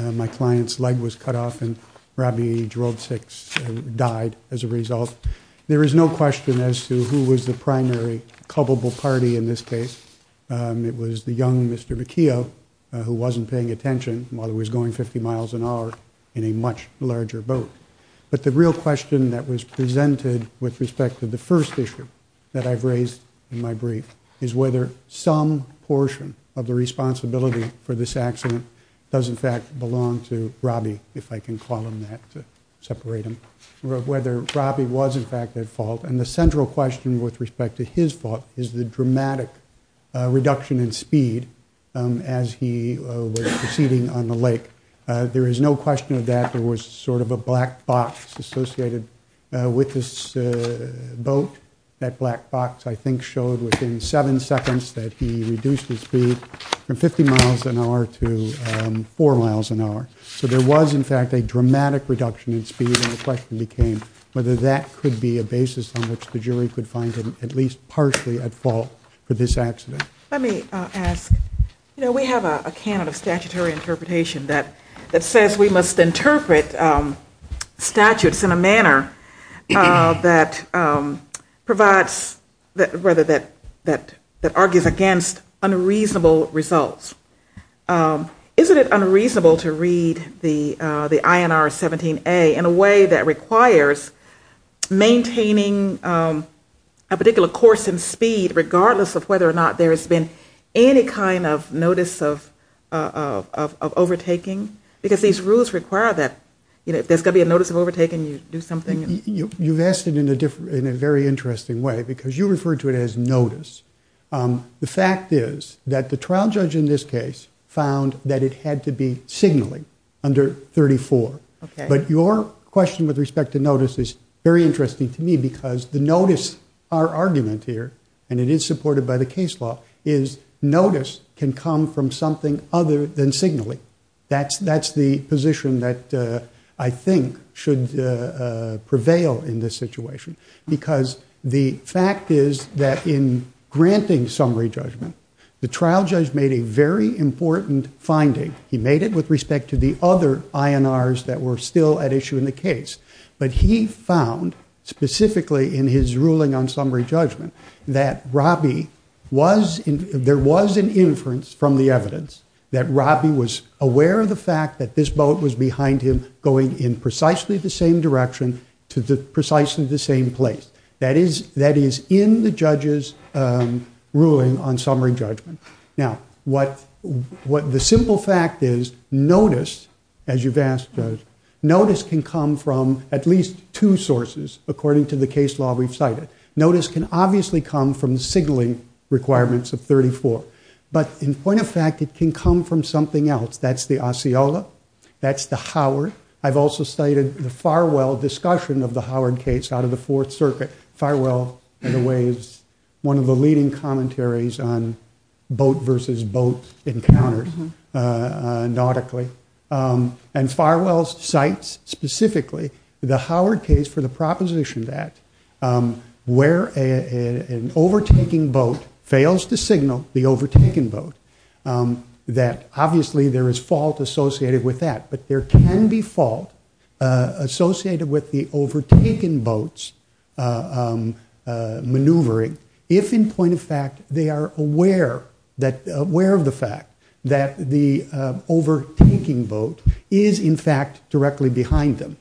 My client's leg was cut off and Robbie Gerold six died as a result. There is no question as to who was the primary culpable party in this case. It was the young Mr. McKeough who wasn't paying attention while he was going 50 miles an hour in a much larger boat. But the real question that was presented with respect to the first issue that I've raised in my brief is whether some portion of the responsibility for this accident does in fact belong to Robbie, if I can call him that, to separate him, whether Robbie was in fact at fault. And the central question with respect to his fault is the dramatic reduction in speed as he was proceeding on the lake. There is no question that there was sort of a black box associated with this boat. That black box I think showed within seven seconds that he reduced his speed from 50 miles an hour to 4 miles an hour. So there was in fact a dramatic reduction in speed and the question became whether that could be a basis on which the jury could find him at least partially at fault for this accident. Let me ask, you know, we have a canon of statutory interpretation that that says we must interpret statutes in a manner that provides, rather that argues against unreasonable results. Isn't it unreasonable to read the INR 17a in a way that requires maintaining a particular course and speed regardless of whether or not there has been any kind of notice of overtaking? Because these rules require that, you know, if there's gonna be a notice of overtaking you do something. You've asked it in a very interesting way because you refer to it as notice. The fact is that the trial judge in this case found that it had to be signaling under 34. Okay. But your question with respect to notice is very interesting to me because the notice, our argument here, and it is supported by the case law, is notice can come from something other than signaling. That's the position that I think should prevail in this situation because the fact is that in granting summary judgment, the trial judge made a very important finding. He made it with respect to the other INRs that were still at issue in the case, but he found specifically in his ruling on summary judgment that Robbie was, there was an inference from the evidence that Robbie was aware of the fact that this boat was behind him going in precisely the same direction to the precisely the same place. That is, that is in the judge's ruling on summary judgment. Now what, what the simple fact is, notice, as you've asked, notice can come from at least two sources according to the case law we've cited. Notice can obviously come from signaling requirements of 34, but in point of fact it can come from something else. That's the Osceola. That's the Howard. I've also cited the Farwell discussion of the Howard case out of the Fourth Circuit. Farwell in a way is one of the leading commentaries on boat versus boat encounters nautically, and Farwell cites specifically the Howard case for the proposition that where an there is fault associated with that, but there can be fault associated with the overtaken boats maneuvering if in point of fact they are aware that, aware of the fact that the overtaking boat is in fact directly behind them.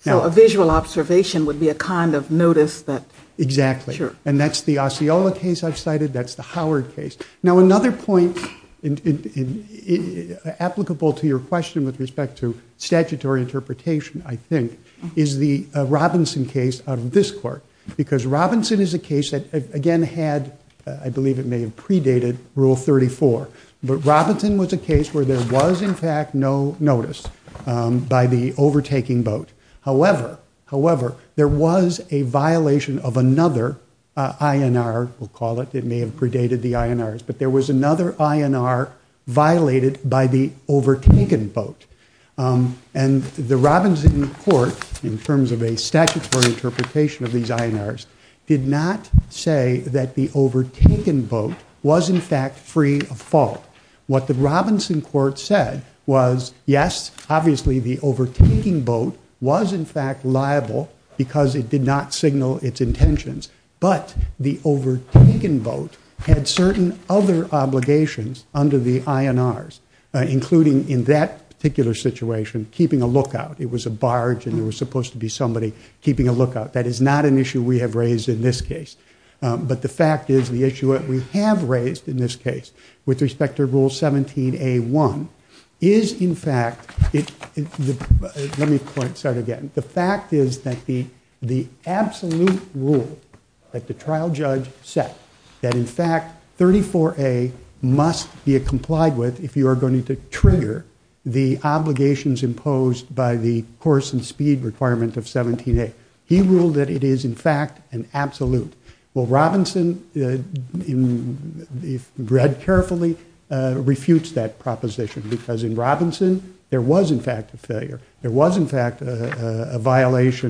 So a visual observation would be a kind of notice that. Exactly. Sure. And that's the Osceola case I've cited. That's the Howard case. Now another point applicable to your question with respect to statutory interpretation, I think, is the Robinson case out of this court, because Robinson is a case that again had, I believe it may have predated, Rule 34, but Robinson was a case where there was in fact no notice by the overtaking boat. However, however, there was a violation of another INR, we'll call it, it may have predated the INRs, but there was another INR violated by the overtaken boat. And the Robinson court, in terms of a statutory interpretation of these INRs, did not say that the overtaken boat was in fact free of fault. What the Robinson court said was, yes, obviously the INRs, including in that particular situation, keeping a lookout. It was a barge and there was supposed to be somebody keeping a lookout. That is not an issue we have raised in this case. But the fact is, the issue that we have raised in this case, with respect to Rule 17a1, is in fact, let me start again, the fact is that the absolute rule that the trial judge set, that in fact 34a must be complied with if you are going to trigger the obligations imposed by the course and speed requirement of 17a. He ruled that it is in fact an absolute. Well, Robinson, if read carefully, refutes that proposition, because in violation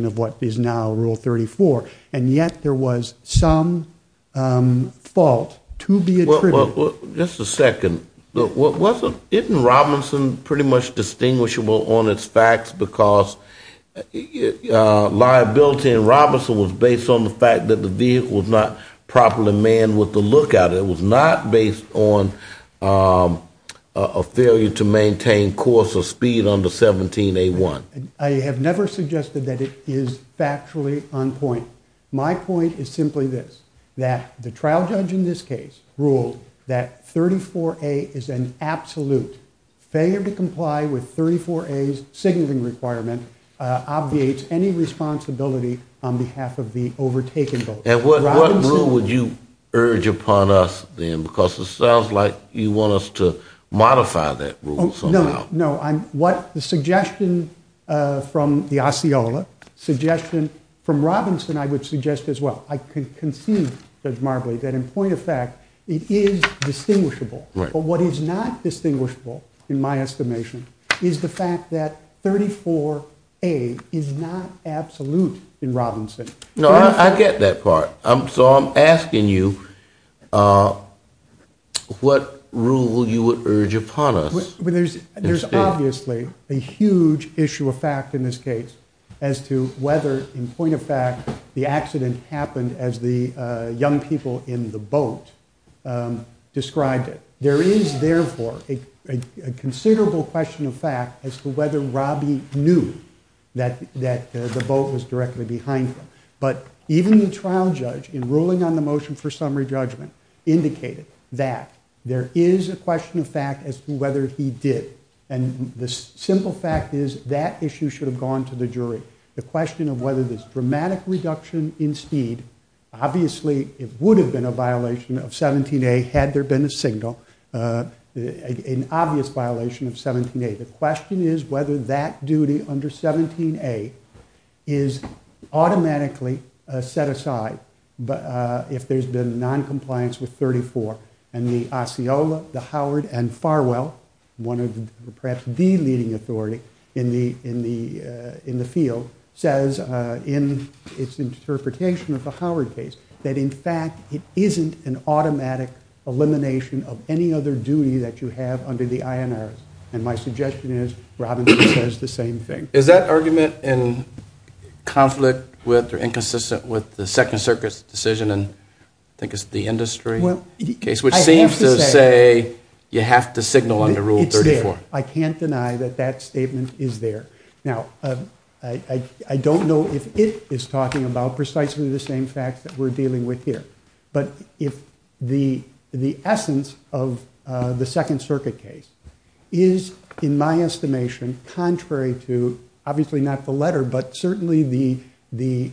of what is now Rule 34. And yet there was some fault to be attributed. Just a second. Isn't Robinson pretty much distinguishable on its facts, because liability in Robinson was based on the fact that the vehicle was not properly manned with the lookout. It was not based on a failure to maintain course or speed under 17a1. I have never suggested that it is factually on point. My point is simply this, that the trial judge in this case ruled that 34a is an absolute. Failure to comply with 34a's signaling requirement obviates any responsibility on behalf of the judge. It sounds like you want us to modify that rule somehow. No, no. What the suggestion from the Osceola, suggestion from Robinson, I would suggest as well. I can concede, Judge Marbley, that in point of fact it is distinguishable. But what is not distinguishable, in my estimation, is the fact that 34a is not absolute in what rule you would urge upon us. There's obviously a huge issue of fact in this case as to whether, in point of fact, the accident happened as the young people in the boat described it. There is therefore a considerable question of fact as to whether Robbie knew that the boat was directly behind him. But even the fact, there is a question of fact as to whether he did. And the simple fact is that issue should have gone to the jury. The question of whether this dramatic reduction in speed, obviously it would have been a violation of 17a had there been a signal, an obvious violation of 17a. The question is whether that duty under 17a is automatically set aside, but if there's been non-compliance with Article 34 and the Osceola, the Howard, and Farwell, one of perhaps the leading authority in the field, says in its interpretation of the Howard case that in fact it isn't an automatic elimination of any other duty that you have under the INRS. And my suggestion is Robinson says the same thing. Is that argument in conflict with or inconsistent with the Second Circuit's decision, and I think it's the industry case, which seems to say you have to signal under Rule 34. I can't deny that that statement is there. Now I don't know if it is talking about precisely the same facts that we're dealing with here. But if the essence of the Second Circuit case is in my estimation contrary to, obviously not the letter, but certainly the the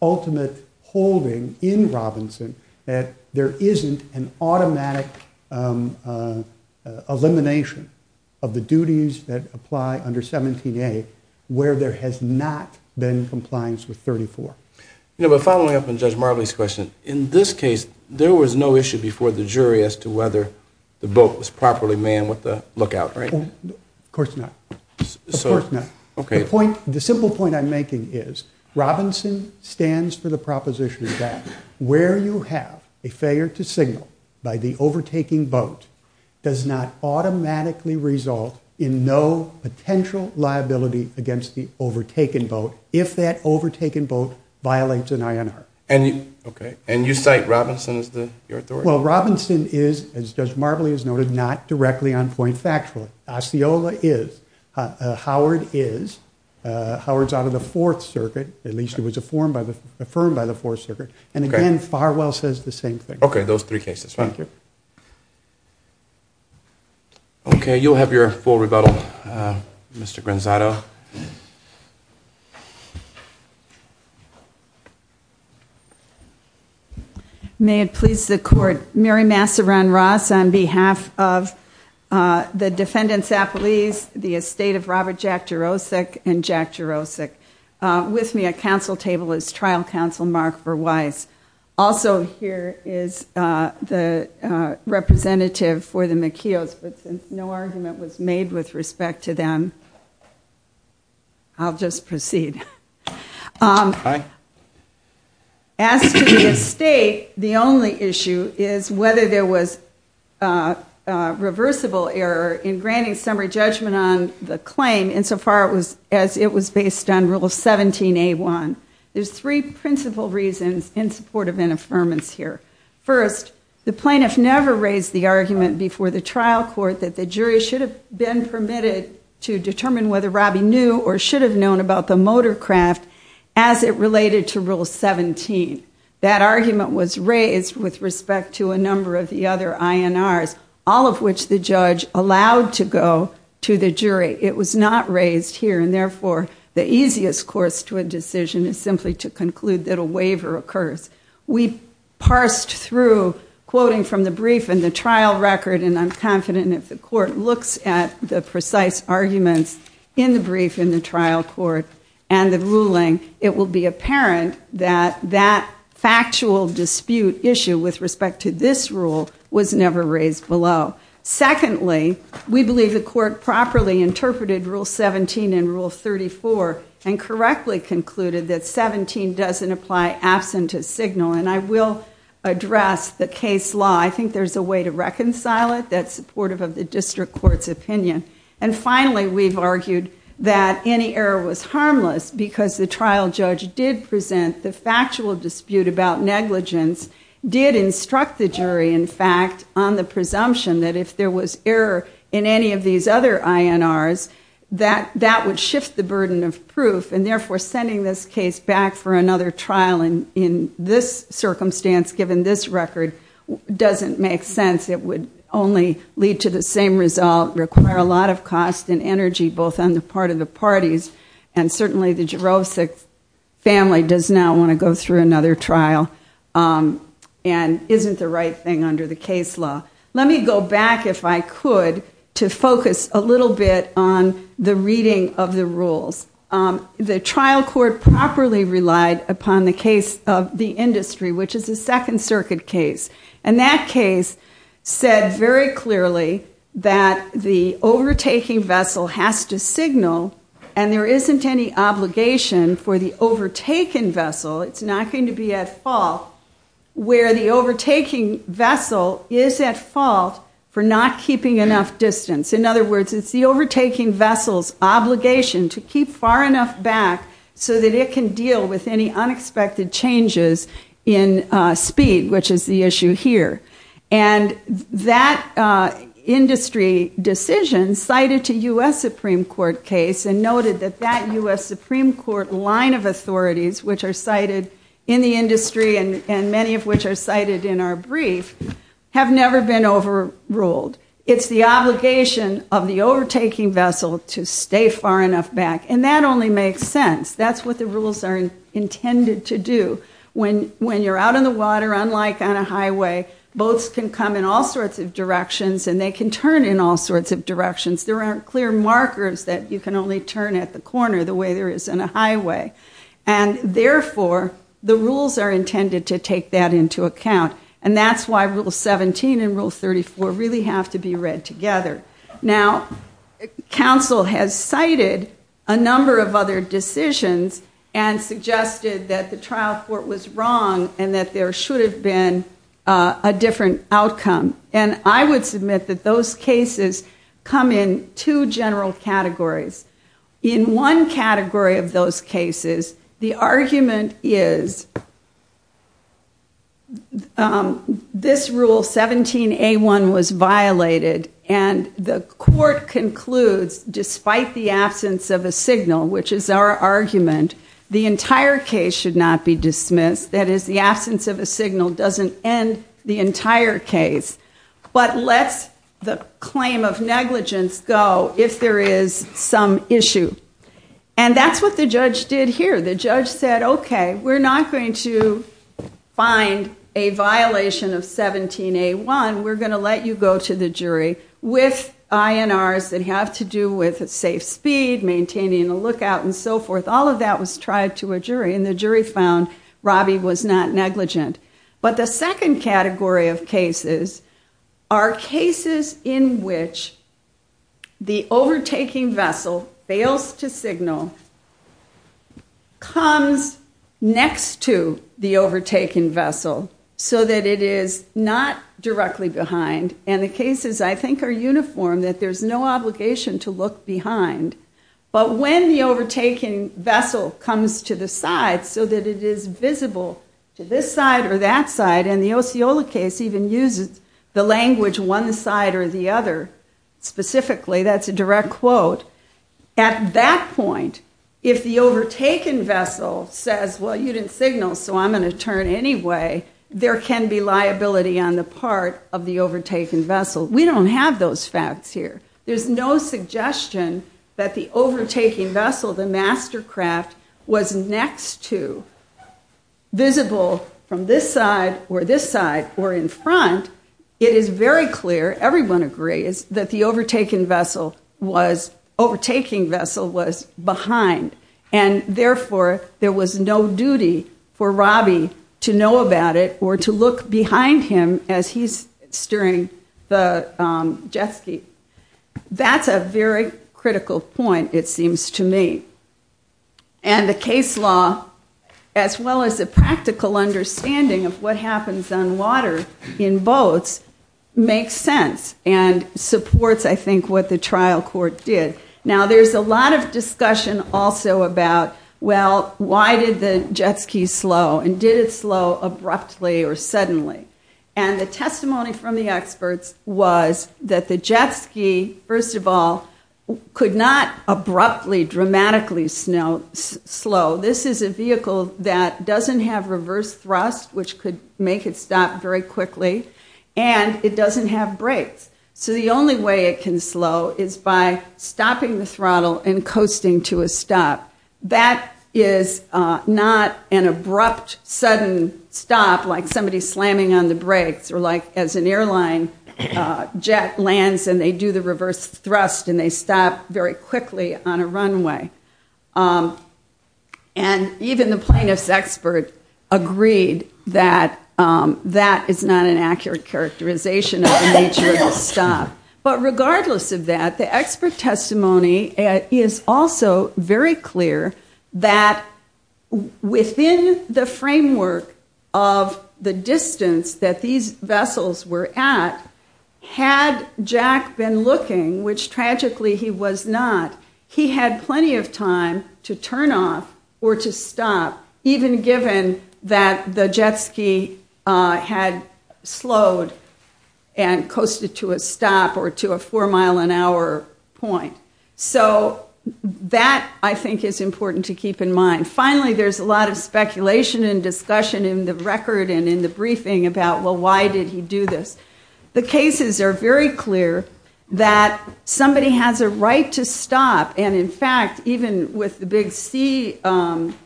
ultimate holding in Robinson that there isn't an automatic elimination of the duties that apply under 17a where there has not been compliance with 34. You know, but following up on Judge Marley's question, in this case there was no issue before the jury as to whether the boat was properly manned with the lookout, right? Of course not. The simple point I'm making is Robinson stands for the proposition that where you have a failure to signal by the overtaking boat does not automatically result in no potential liability against the overtaken boat if that overtaken boat violates an INR. And you cite Robinson as the authority? Well Robinson is, as Judge Marley has noted, not directly on point factually. Osceola is. Howard is. Howard's out of the Fourth Circuit. At least he was affirmed by the Fourth Circuit. And again, Farwell says the same thing. Okay, those three cases. Thank you. Okay, you'll have your full rebuttal, Mr. Granzato. May it please the court, Mary Masseron Ross on behalf of the defendants' apologies, the estate of Robert Jack Jarosik and Jack Jarosik. With me at council table is trial counsel Mark Verweis. Also here is the representative for the McKeows, but since no argument was made with respect to them, I'll just proceed. As to the estate, the only issue is whether there was a reversible error in granting summary judgment on the claim insofar as it was based on Rule 17a1. There's three principal reasons in support of an argument before the trial court that the jury should have been permitted to determine whether Robbie knew or should have known about the motorcraft as it related to Rule 17. That argument was raised with respect to a number of the other INRs, all of which the judge allowed to go to the jury. It was not raised here, and therefore the easiest course to a decision is simply to conclude that a waiver occurs. We parsed through, quoting from the brief and the trial record, and I'm confident if the court looks at the precise arguments in the brief in the trial court and the ruling, it will be apparent that that factual dispute issue with respect to this rule was never raised below. Secondly, we believe the court properly interpreted Rule 17 and Rule 34 and correctly concluded that 17 doesn't apply absent a signal, and I will address the case law. I think there's a way to reconcile it that's supportive of the district court's opinion. And finally, we've argued that any error was harmless because the trial judge did present the factual dispute about negligence, did instruct the jury, in fact, on the presumption that if there was error in any of these other INRs, that that would shift the burden of proof, and therefore sending this case back for another trial in this circumstance given this record doesn't make sense. It would only lead to the same result, require a lot of cost and energy, both on the part of the parties, and certainly the Jurovcic family does not want to go through another trial and isn't the right thing under the case law. Let me go back, if I could, to focus a little bit on the reading of the rules. The trial court properly relied upon the case of the industry, which is a Second Circuit case, and that case said very clearly that the overtaking vessel has to signal and there isn't any obligation for the overtaken vessel, it's not going to be at fault, where the overtaking vessel is at fault for not keeping enough distance. In other words, it's the overtaking vessel's obligation to keep far enough back so that it can deal with any unexpected changes in speed, which is the issue here. And that industry decision cited to U.S. Supreme Court case and noted that that U.S. Supreme Court line of authorities, which are cited in the industry and many of which are cited in our brief, have never been overruled. It's the obligation of the overtaking vessel to stay far enough back, and that only makes sense. That's what the rules are intended to do, when you're out on the water, unlike on a highway, boats can come in all sorts of directions and they can turn in all sorts of directions. There aren't clear markers that you can only turn at the corner the way there is on a highway. And therefore, the rules are intended to take that into account, and that's why Rule 17 and Rule 34 really have to be read together. Now, counsel has cited a number of other decisions and suggested that the trial court was wrong and that there should have been a different outcome. And I would submit that those cases come in two general categories. In one category of those cases, the argument is this Rule 17A1 was violated, and the court concludes, despite the absence of a signal, which is our argument, the entire case should not be dismissed. That is, the absence of a signal doesn't end the entire case, but lets the claim of negligence go if there is some issue. And that's what the judge did here. The judge said, okay, we're not going to find a violation of 17A1. We're going to let you go to the jury with INRs that have to do with safe speed, maintaining a lookout, and so forth. All of that was tried to a jury, and the jury found Robbie was not negligent. But the second category of cases are cases in which the overtaking vessel fails to signal, comes next to the overtaken vessel so that it is not directly behind. And the cases, I think, are uniform, that there's no obligation to look behind. But when the overtaken vessel comes to the side so that it is visible to this side or that side, and the Osceola case even uses the language one side or the other, specifically, that's a direct quote. At that point, if the overtaken vessel says, well, you didn't signal, so I'm going to turn anyway, there can be liability on the part of the overtaken vessel. We don't have those facts here. There's no suggestion that the overtaking vessel, the mastercraft, was next to, visible from this side or this side or in front. It is very clear, everyone agrees, that the overtaken vessel was, overtaking vessel was behind. And therefore, there was no duty for Robbie to know about it or to look behind him as he's steering the jet ski. That's a very critical point, it seems to me. And the case law, as well as the practical understanding of what makes sense and supports, I think, what the trial court did. Now, there's a lot of discussion also about, well, why did the jet ski slow? And did it slow abruptly or suddenly? And the testimony from the experts was that the jet ski, first of all, could not abruptly, dramatically slow. This is a vehicle that doesn't have brakes. So the only way it can slow is by stopping the throttle and coasting to a stop. That is not an abrupt, sudden stop, like somebody slamming on the brakes, or like as an airline jet lands and they do the reverse thrust and they stop very quickly on a runway. And even the plaintiff's expert agreed that that is not an accurate characterization of the nature of the stop. But regardless of that, the expert testimony is also very clear that within the framework of the distance that these vessels were at, had Jack been looking, which tragically he was not, he had plenty of time to turn off or to stop, even given that the jet ski had slowed and coasted to a stop or to a four-mile-an-hour point. So that, I think, is important to keep in mind. Finally, there's a lot of speculation and discussion in the record and in the briefing about, well, why did he do this? The cases are very clear that somebody has a right to stop and, in fact, even with the big sea-going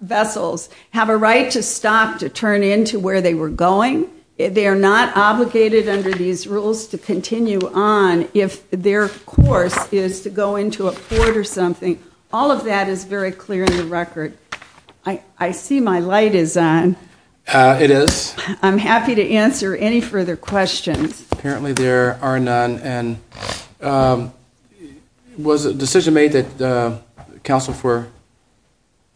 vessels, have a right to stop to turn into where they were going. They are not obligated under these rules to continue on if their course is to go into a port or something. All of that is very clear in the record. I see my light is on. It is. I'm happy to answer any further questions. Apparently there are none and was a decision made that the counsel for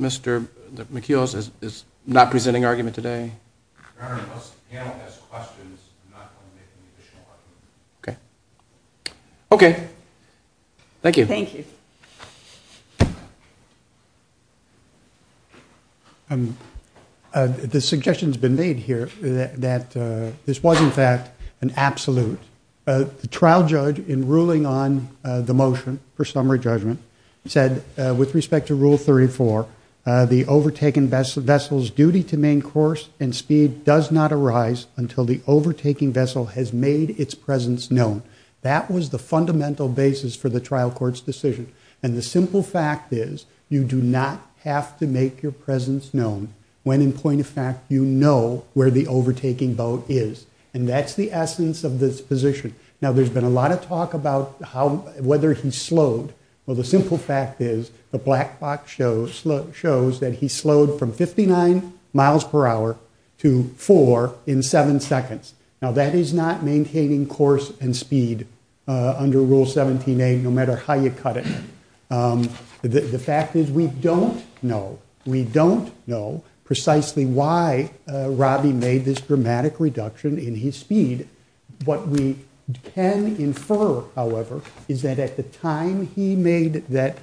Mr. McEilas is not presenting argument today? Okay. Okay. Thank you. Thank you. The suggestion has been made here that this was, in fact, an absolute. The trial judge, in ruling on the motion for summary judgment, said with respect to Rule 34, the overtaken vessel's duty to main course and speed does not arise until the overtaking vessel has made its presence known. That was the fundamental basis for the trial court's decision and the simple fact is you do not have to make your presence known when, in point of fact, you know where the overtaking boat is and that's the essence of this position. Now there's been a lot of talk about whether he slowed. Well, the simple fact is the black box shows that he slowed from 59 miles per hour to four in seven seconds. Now that is not maintaining course and speed under Rule 17a, no The fact is we don't know. We don't know precisely why Robbie made this dramatic reduction in his speed. What we can infer, however, is that at the time he made that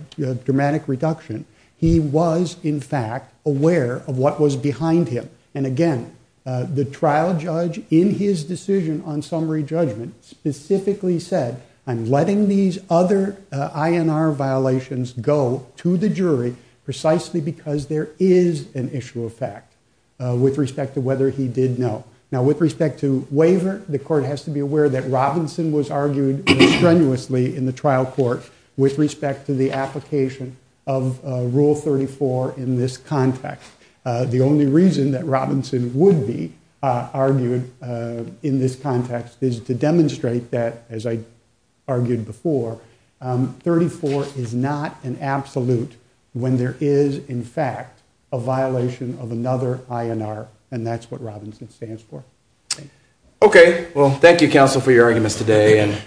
dramatic reduction, he was, in fact, aware of what was behind him and again the trial judge, in his decision on summary judgment, specifically said I'm letting these other INR violations go to the jury precisely because there is an issue of fact with respect to whether he did know. Now with respect to waiver, the court has to be aware that Robinson was argued strenuously in the trial court with respect to the application of Rule 34 in this context. The only reason that Robinson would be argued in this context is to demonstrate that, as I argued before, 34 is not an absolute when there is, in fact, a violation of another INR and that's what Robinson stands for. Okay, well thank you counsel for your arguments today and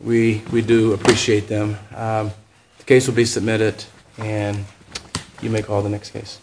we we do appreciate them. The case will be submitted and you may call the next case.